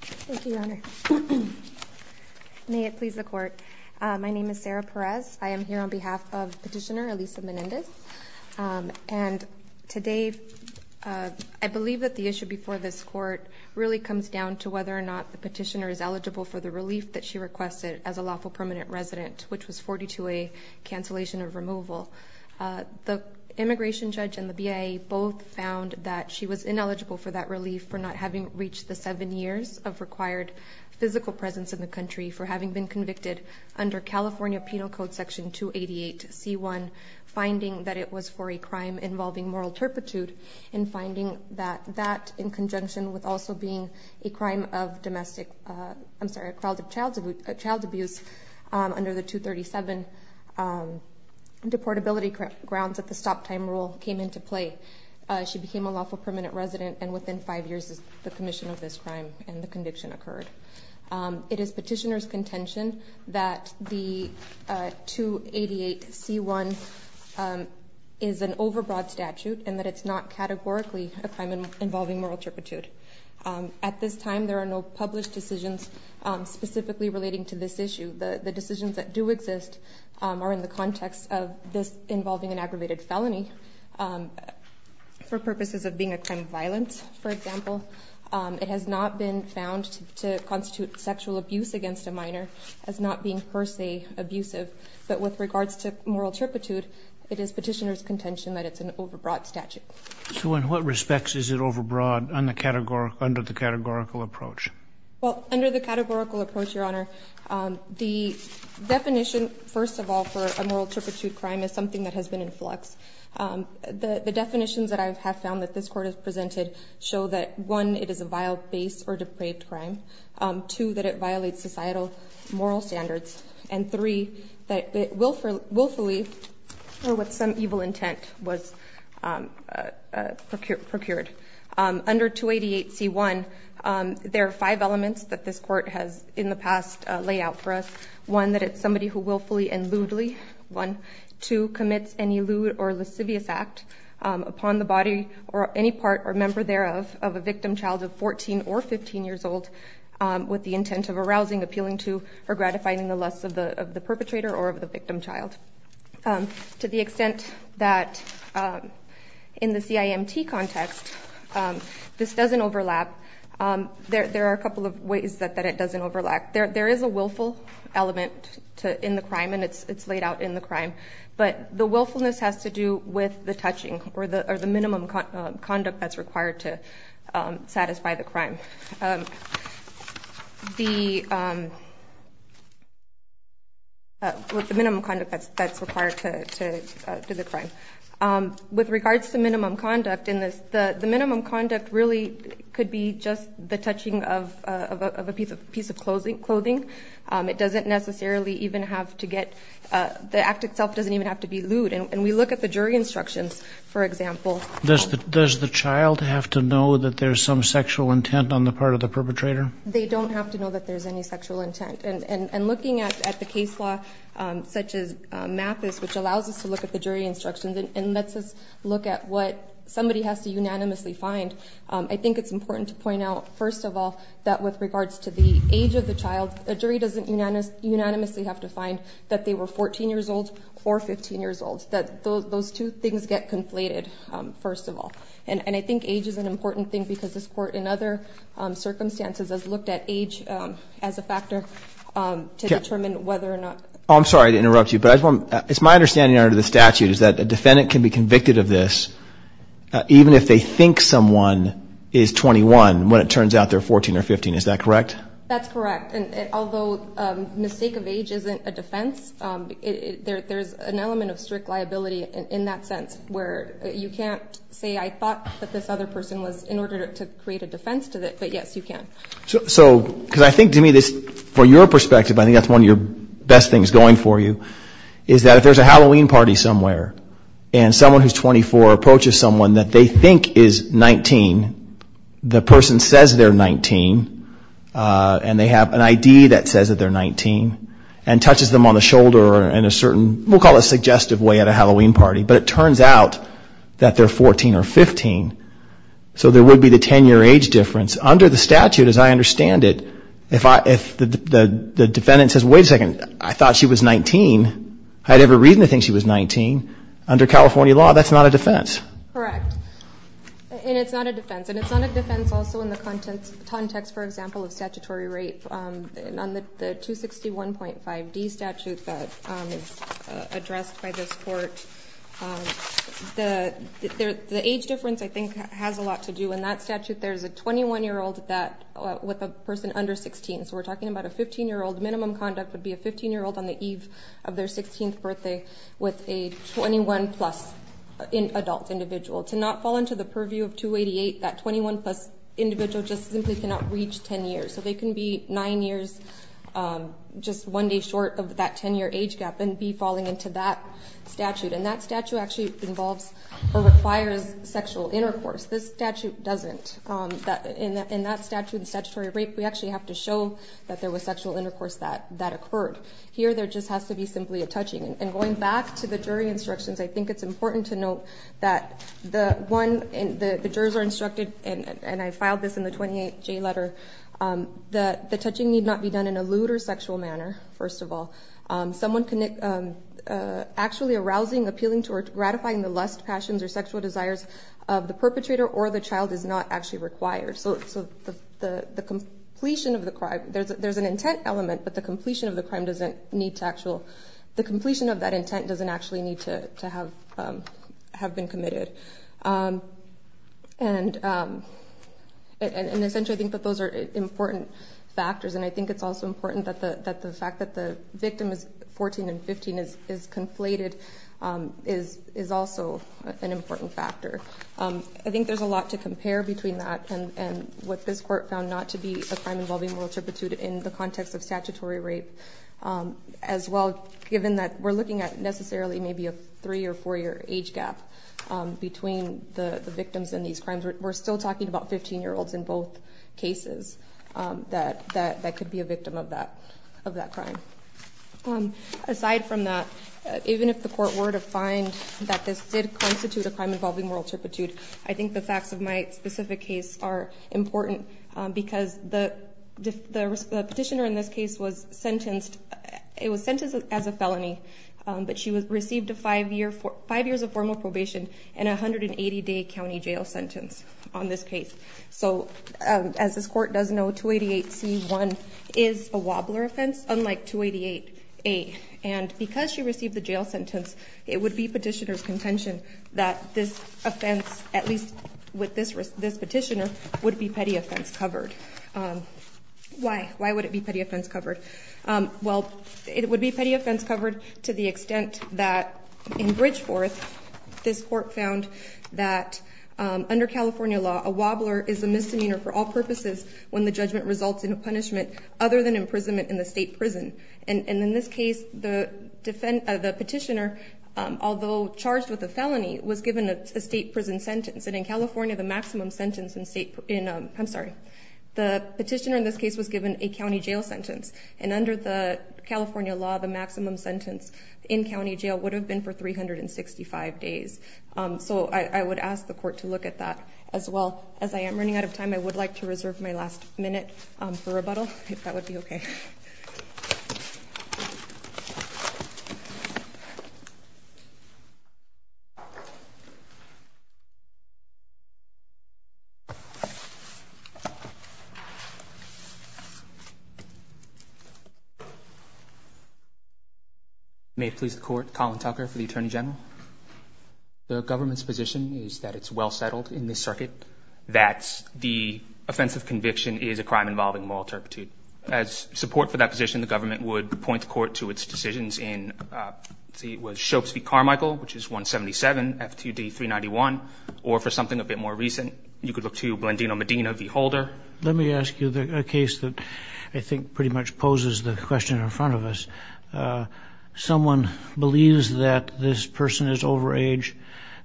Thank you, Your Honor. May it please the Court. My name is Sarah Perez. I am here on behalf of Petitioner Elisa Menendez. And today, I believe that the issue before this Court really comes down to whether or not the petitioner is eligible for the relief that she requested as a lawful permanent resident, which was 42A, cancellation of removal. The immigration judge and the BIA both found that she was ineligible for that relief for not having reached the seven years of required physical presence in the country for having been convicted under California Penal Code Section 288C1, finding that it was for a crime involving moral turpitude, and finding that that, in conjunction with also being a crime of domestic, I'm sorry, a child abuse under the 237 deportability grounds that the stop time rule came into play. She became a lawful permanent resident, and within five years, the commission of this crime and the conviction occurred. It is petitioner's contention that the 288C1 is an overbroad statute and that it's not categorically a crime involving moral turpitude. At this time, there are no published decisions specifically relating to this issue. The decisions that do exist are in the context of this involving an aggravated felony for purposes of being a crime of violence, for example. It has not been found to constitute sexual abuse against a minor as not being per se abusive. But with regards to moral turpitude, it is petitioner's contention that it's an overbroad statute. So in what respects is it overbroad under the categorical approach? Well, under the categorical approach, Your Honor, the definition, first of all, for a moral turpitude crime is something that has been in flux. The definitions that I have found that this court has presented show that one, it is a vile base or depraved crime. Two, that it violates societal moral standards. And three, that it willfully or with some evil intent was procured. Under 288C1, there are five elements that this court has in the past laid out for us. One, that it's somebody who willfully and lewdly. One. Two, commits any lewd or lascivious act upon the body or any part or member thereof of a victim child of 14 or 15 years old with the intent of arousing, appealing to, or gratifying the lusts of the perpetrator or of the victim child. To the extent that in the CIMT context, this doesn't overlap, there are a couple of ways that it doesn't overlap. There is a willful element in the crime and it's laid out in the crime. But the willfulness has to do with the touching or the minimum conduct that's required to satisfy the crime. The minimum conduct that's required to the crime. With regards to minimum conduct in this, the minimum conduct really could be just the touching of a piece of clothing. It doesn't necessarily even have to get, the act itself doesn't even have to be lewd. And we look at the jury instructions, for example. Does the child have to know that there's some sexual intent on the part of the perpetrator? They don't have to know that there's any sexual intent. And looking at the case law, such as Mathis, which allows us to look at the jury instructions and lets us look at what somebody has to unanimously find. I think it's important to point out, first of all, that with regards to the age of the child, a jury doesn't unanimously have to find that they were 14 years old or 15 years old. Those two things get conflated, first of all. And I think age is an important thing because this court, in other circumstances, has looked at age as a factor to determine whether or not. I'm sorry to interrupt you, but it's my understanding under the statute is that a defendant can be convicted of this even if they think someone is 21 when it turns out they're 14 or 15. Is that correct? That's correct. And although mistake of age isn't a defense, there's an element of strict liability in that sense where you can't say, I thought that this other person was, in order to create a defense to it. But yes, you can. So, because I think to me this, from your perspective, I think that's one of your best things going for you, is that if there's a Halloween party somewhere and someone who's 24 approaches someone that they think is 19, the person says they're 19 and they have an ID that says that they're 19 and touches them on the shoulder in a certain, we'll call it a suggestive way at a Halloween party. But it turns out that they're 14 or 15, so there would be the 10-year age difference. Under the statute, as I understand it, if the defendant says, wait a second, I thought she was 19, I had every reason to think she was 19, under California law, that's not a defense. Correct. And it's not a defense. And it's not a defense also in the context, for example, of statutory rape. On the 261.5D statute that is addressed by this court, the age difference, I think, has a lot to do. In that statute, there's a 21-year-old with a person under 16, so we're talking about a 15-year-old, minimum conduct would be a 15-year-old on the eve of their 16th birthday with a 21-plus adult individual. To not fall into the purview of 288, that 21-plus individual just simply cannot reach 10 years. So they can be 9 years, just one day short of that 10-year age gap and be falling into that statute. And that statute actually involves or requires sexual intercourse. This statute doesn't. In that statute, in statutory rape, we actually have to show that there was sexual intercourse that occurred. Here, there just has to be simply a touching. And going back to the jury instructions, I think it's important to note that the jurors are instructed, and I filed this in the 28J letter, that the touching need not be done in a lewd or sexual manner, first of all. Someone actually arousing, appealing to, or gratifying the lust, passions, or sexual desires of the perpetrator or the child is not actually required. So the completion of the crime, there's an intent element, but the completion of the crime doesn't need to actually, the completion of that intent doesn't actually need to have been committed. And essentially, I think that those are important factors. And I think it's also important that the fact that the victim is 14 and 15 is conflated is also an important factor. I think there's a lot to compare between that and what this court found not to be a crime involving moral tribute in the context of statutory rape, as well, given that we're looking at necessarily maybe a 3- or 4-year age gap. Between the victims and these crimes, we're still talking about 15-year-olds in both cases that could be a victim of that crime. Aside from that, even if the court were to find that this did constitute a crime involving moral tributude, I think the facts of my specific case are important because the petitioner in this case was sentenced, it was sentenced as a felony, but she received 5 years of formal probation and a 180-day county jail sentence on this case. So as this court does know, 288C1 is a wobbler offense, unlike 288A. And because she received the jail sentence, it would be petitioner's contention that this offense, at least with this petitioner, would be petty offense covered. Why? Why would it be petty offense covered? Well, it would be petty offense covered to the extent that in Bridgeforth, this court found that under California law, a wobbler is a misdemeanor for all purposes when the judgment results in a punishment other than imprisonment in the state prison. And in this case, the petitioner, although charged with a felony, was given a state prison sentence. And in California, the petitioner in this case was given a county jail sentence. And under the California law, the maximum sentence in county jail would have been for 365 days. So I would ask the court to look at that as well. As I am running out of time, I would like to reserve my last minute for rebuttal, if that would be okay. Thank you. May it please the Court, Colin Tucker for the Attorney General. The government's position is that it's well settled in this circuit that the offensive conviction is a crime involving moral turpitude. As support for that position, the government would point the court to its decisions in, let's see, if it was Shopes v. Carmichael, which is 177, F2D 391, or for something a bit more recent, you could look to Blandino Medina v. Holder. Let me ask you a case that I think pretty much poses the question in front of us. Someone believes that this person is overage,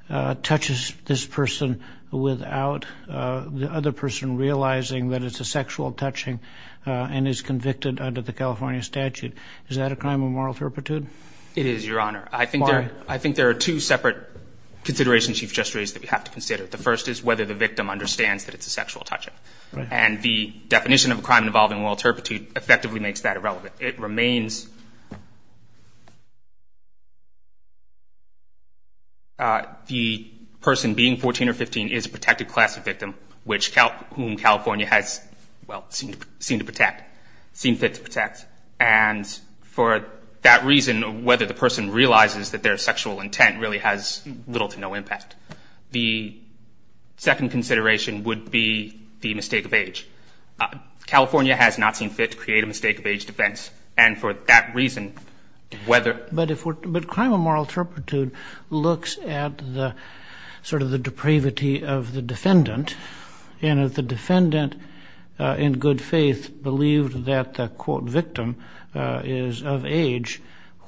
touches this person without the other person realizing that it's a sexual touching, and is convicted under the California statute. Is that a crime of moral turpitude? It is, Your Honor. I think there are two separate considerations you've just raised that we have to consider. The first is whether the victim understands that it's a sexual touching. And the definition of a crime involving moral turpitude effectively makes that irrelevant. It remains the person being 14 or 15 is a protected class of victim, whom California has, well, seemed to protect, seemed fit to protect. And for that reason, whether the person realizes that their sexual intent really has little to no impact. The second consideration would be the mistake of age. California has not seen fit to create a mistake of age defense. And for that reason, whether... But crime of moral turpitude looks at sort of the depravity of the defendant. And if the defendant, in good faith, believed that the, quote, victim is of age,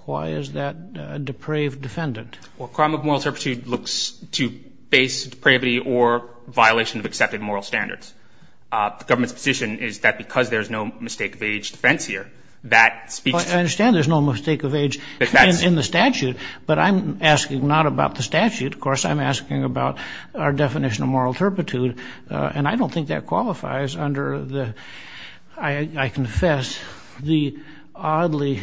why is that a depraved defendant? Well, crime of moral turpitude looks to base depravity or violation of accepted moral standards. The government's position is that because there's no mistake of age defense here, that speaks to... I understand there's no mistake of age in the statute, but I'm asking not about the statute. Of course, I'm asking about our definition of moral turpitude. And I don't think that qualifies under the, I confess, the oddly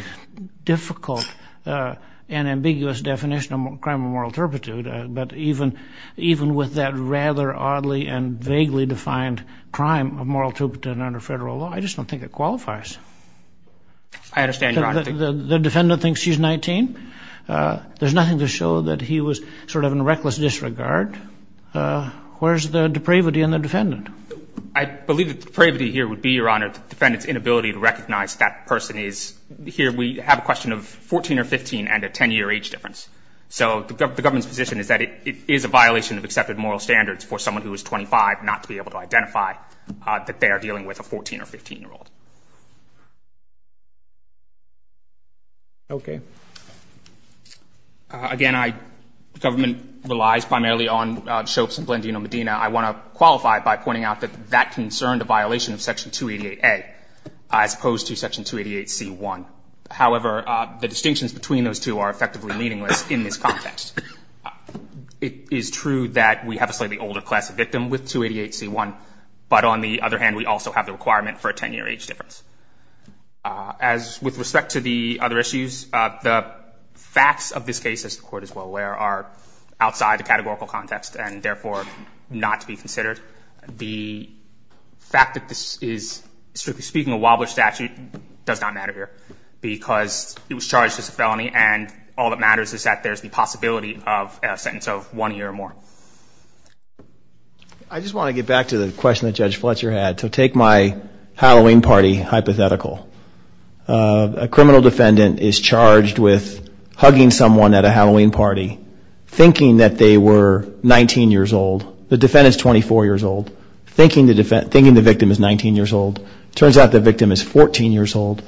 difficult and ambiguous definition of crime of moral turpitude. But even with that rather oddly and vaguely defined crime of moral turpitude under federal law, I just don't think it qualifies. I understand your argument. The defendant thinks she's 19. There's nothing to show that he was sort of in reckless disregard. Where's the depravity in the defendant? I believe that the depravity here would be, Your Honor, the defendant's inability to recognize that person is... Here we have a question of 14 or 15 and a 10-year age difference. So the government's position is that it is a violation of accepted moral standards for someone who is 25 not to be able to identify that they are dealing with a 14 or 15-year-old. Okay. Again, government relies primarily on Shopes and Blandino-Medina. I want to qualify by pointing out that that concerned a violation of Section 288A as opposed to Section 288C1. However, the distinctions between those two are effectively meaningless in this context. It is true that we have a slightly older class of victim with 288C1, but on the other hand, we also have the requirement for a 10-year age difference. As with respect to the other issues, the facts of this case, as the Court is well aware, are outside the categorical context and, therefore, not to be considered. The fact that this is, strictly speaking, a wobbler statute does not matter here because it was charged as a felony, and all that matters is that there's the possibility of a sentence of one year or more. I just want to get back to the question that Judge Fletcher had. So take my Halloween party hypothetical. A criminal defendant is charged with hugging someone at a Halloween party, thinking that they were 19 years old. The defendant is 24 years old, thinking the victim is 19 years old. It turns out the victim is 14 years old,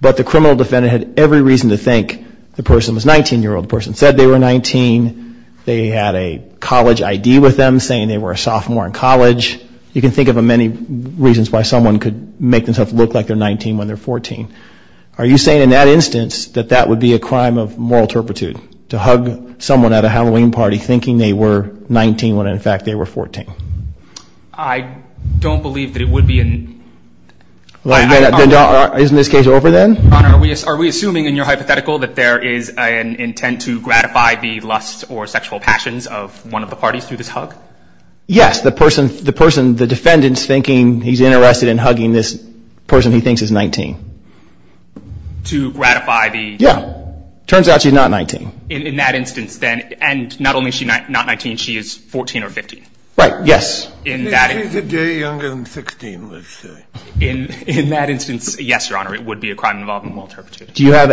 but the criminal defendant had every reason to think the person was 19 years old. The person said they were 19. They had a college ID with them, saying they were a sophomore in college. You can think of many reasons why someone could make themselves look like they're 19 when they're 14. Are you saying, in that instance, that that would be a crime of moral turpitude, to hug someone at a Halloween party, thinking they were 19 when, in fact, they were 14? I don't believe that it would be. Isn't this case over then? Your Honor, are we assuming in your hypothetical that there is an intent to gratify the lusts or sexual passions of one of the parties through this hug? Yes. The person, the defendant's thinking he's interested in hugging this person he thinks is 19. To gratify the? Yeah. Turns out she's not 19. In that instance, then, and not only is she not 19, she is 14 or 15. Right. Yes. In that instance. She's a day younger than 16, let's say. In that instance, yes, Your Honor, it would be a crime involving moral turpitude. Do you have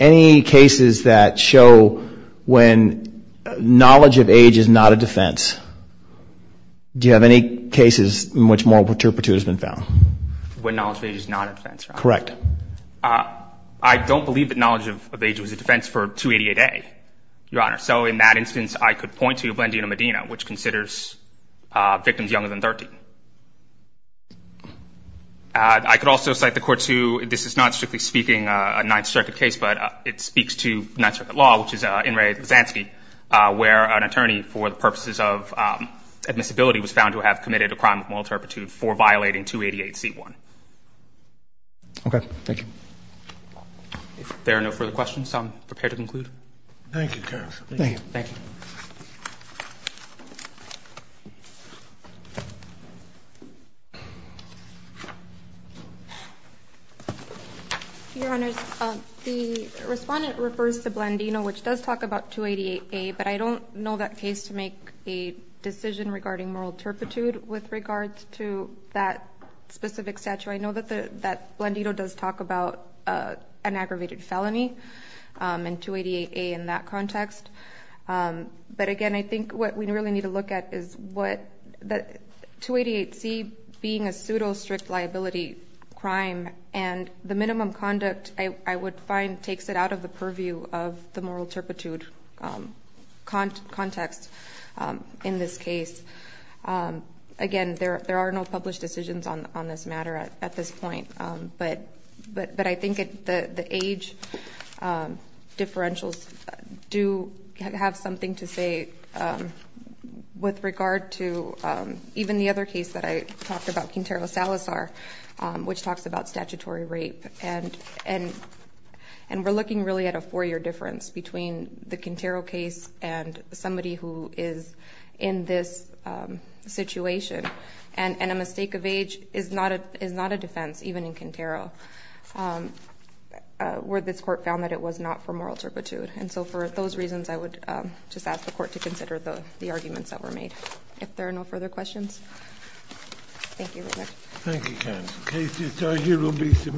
any cases that show when knowledge of age is not a defense? Do you have any cases in which moral turpitude has been found? When knowledge of age is not a defense? Correct. I don't believe that knowledge of age was a defense for 288A, Your Honor. So in that instance, I could point to Blandina Medina, which considers victims younger than 13. I could also cite the court to, this is not strictly speaking a Ninth Circuit case, but it speaks to Ninth Circuit law, which is In re Lasansky, where an attorney for the purposes of admissibility was found to have committed a crime of moral turpitude for violating 288C1. Okay. Thank you. If there are no further questions, I'm prepared to conclude. Thank you, counsel. Thank you. Thank you. Your Honors, the respondent refers to Blandina, which does talk about 288A, but I don't know that case to make a decision regarding moral turpitude with regards to that specific statute. I know that Blandino does talk about an aggravated felony in 288A in that context. But again, I think what we really need to look at is 288C being a pseudo strict liability crime, and the minimum conduct I would find takes it out of the purview of the moral turpitude context in this case. Again, there are no published decisions on this matter at this point. But I think the age differentials do have something to say with regard to even the other case that I talked about, Quintero Salazar, which talks about statutory rape. And we're looking really at a four-year difference between the Quintero case and somebody who is in this situation. And a mistake of age is not a defense, even in Quintero, where this court found that it was not for moral turpitude. And so for those reasons, I would just ask the court to consider the arguments that were made. If there are no further questions. Thank you, counsel. This case is adjourned.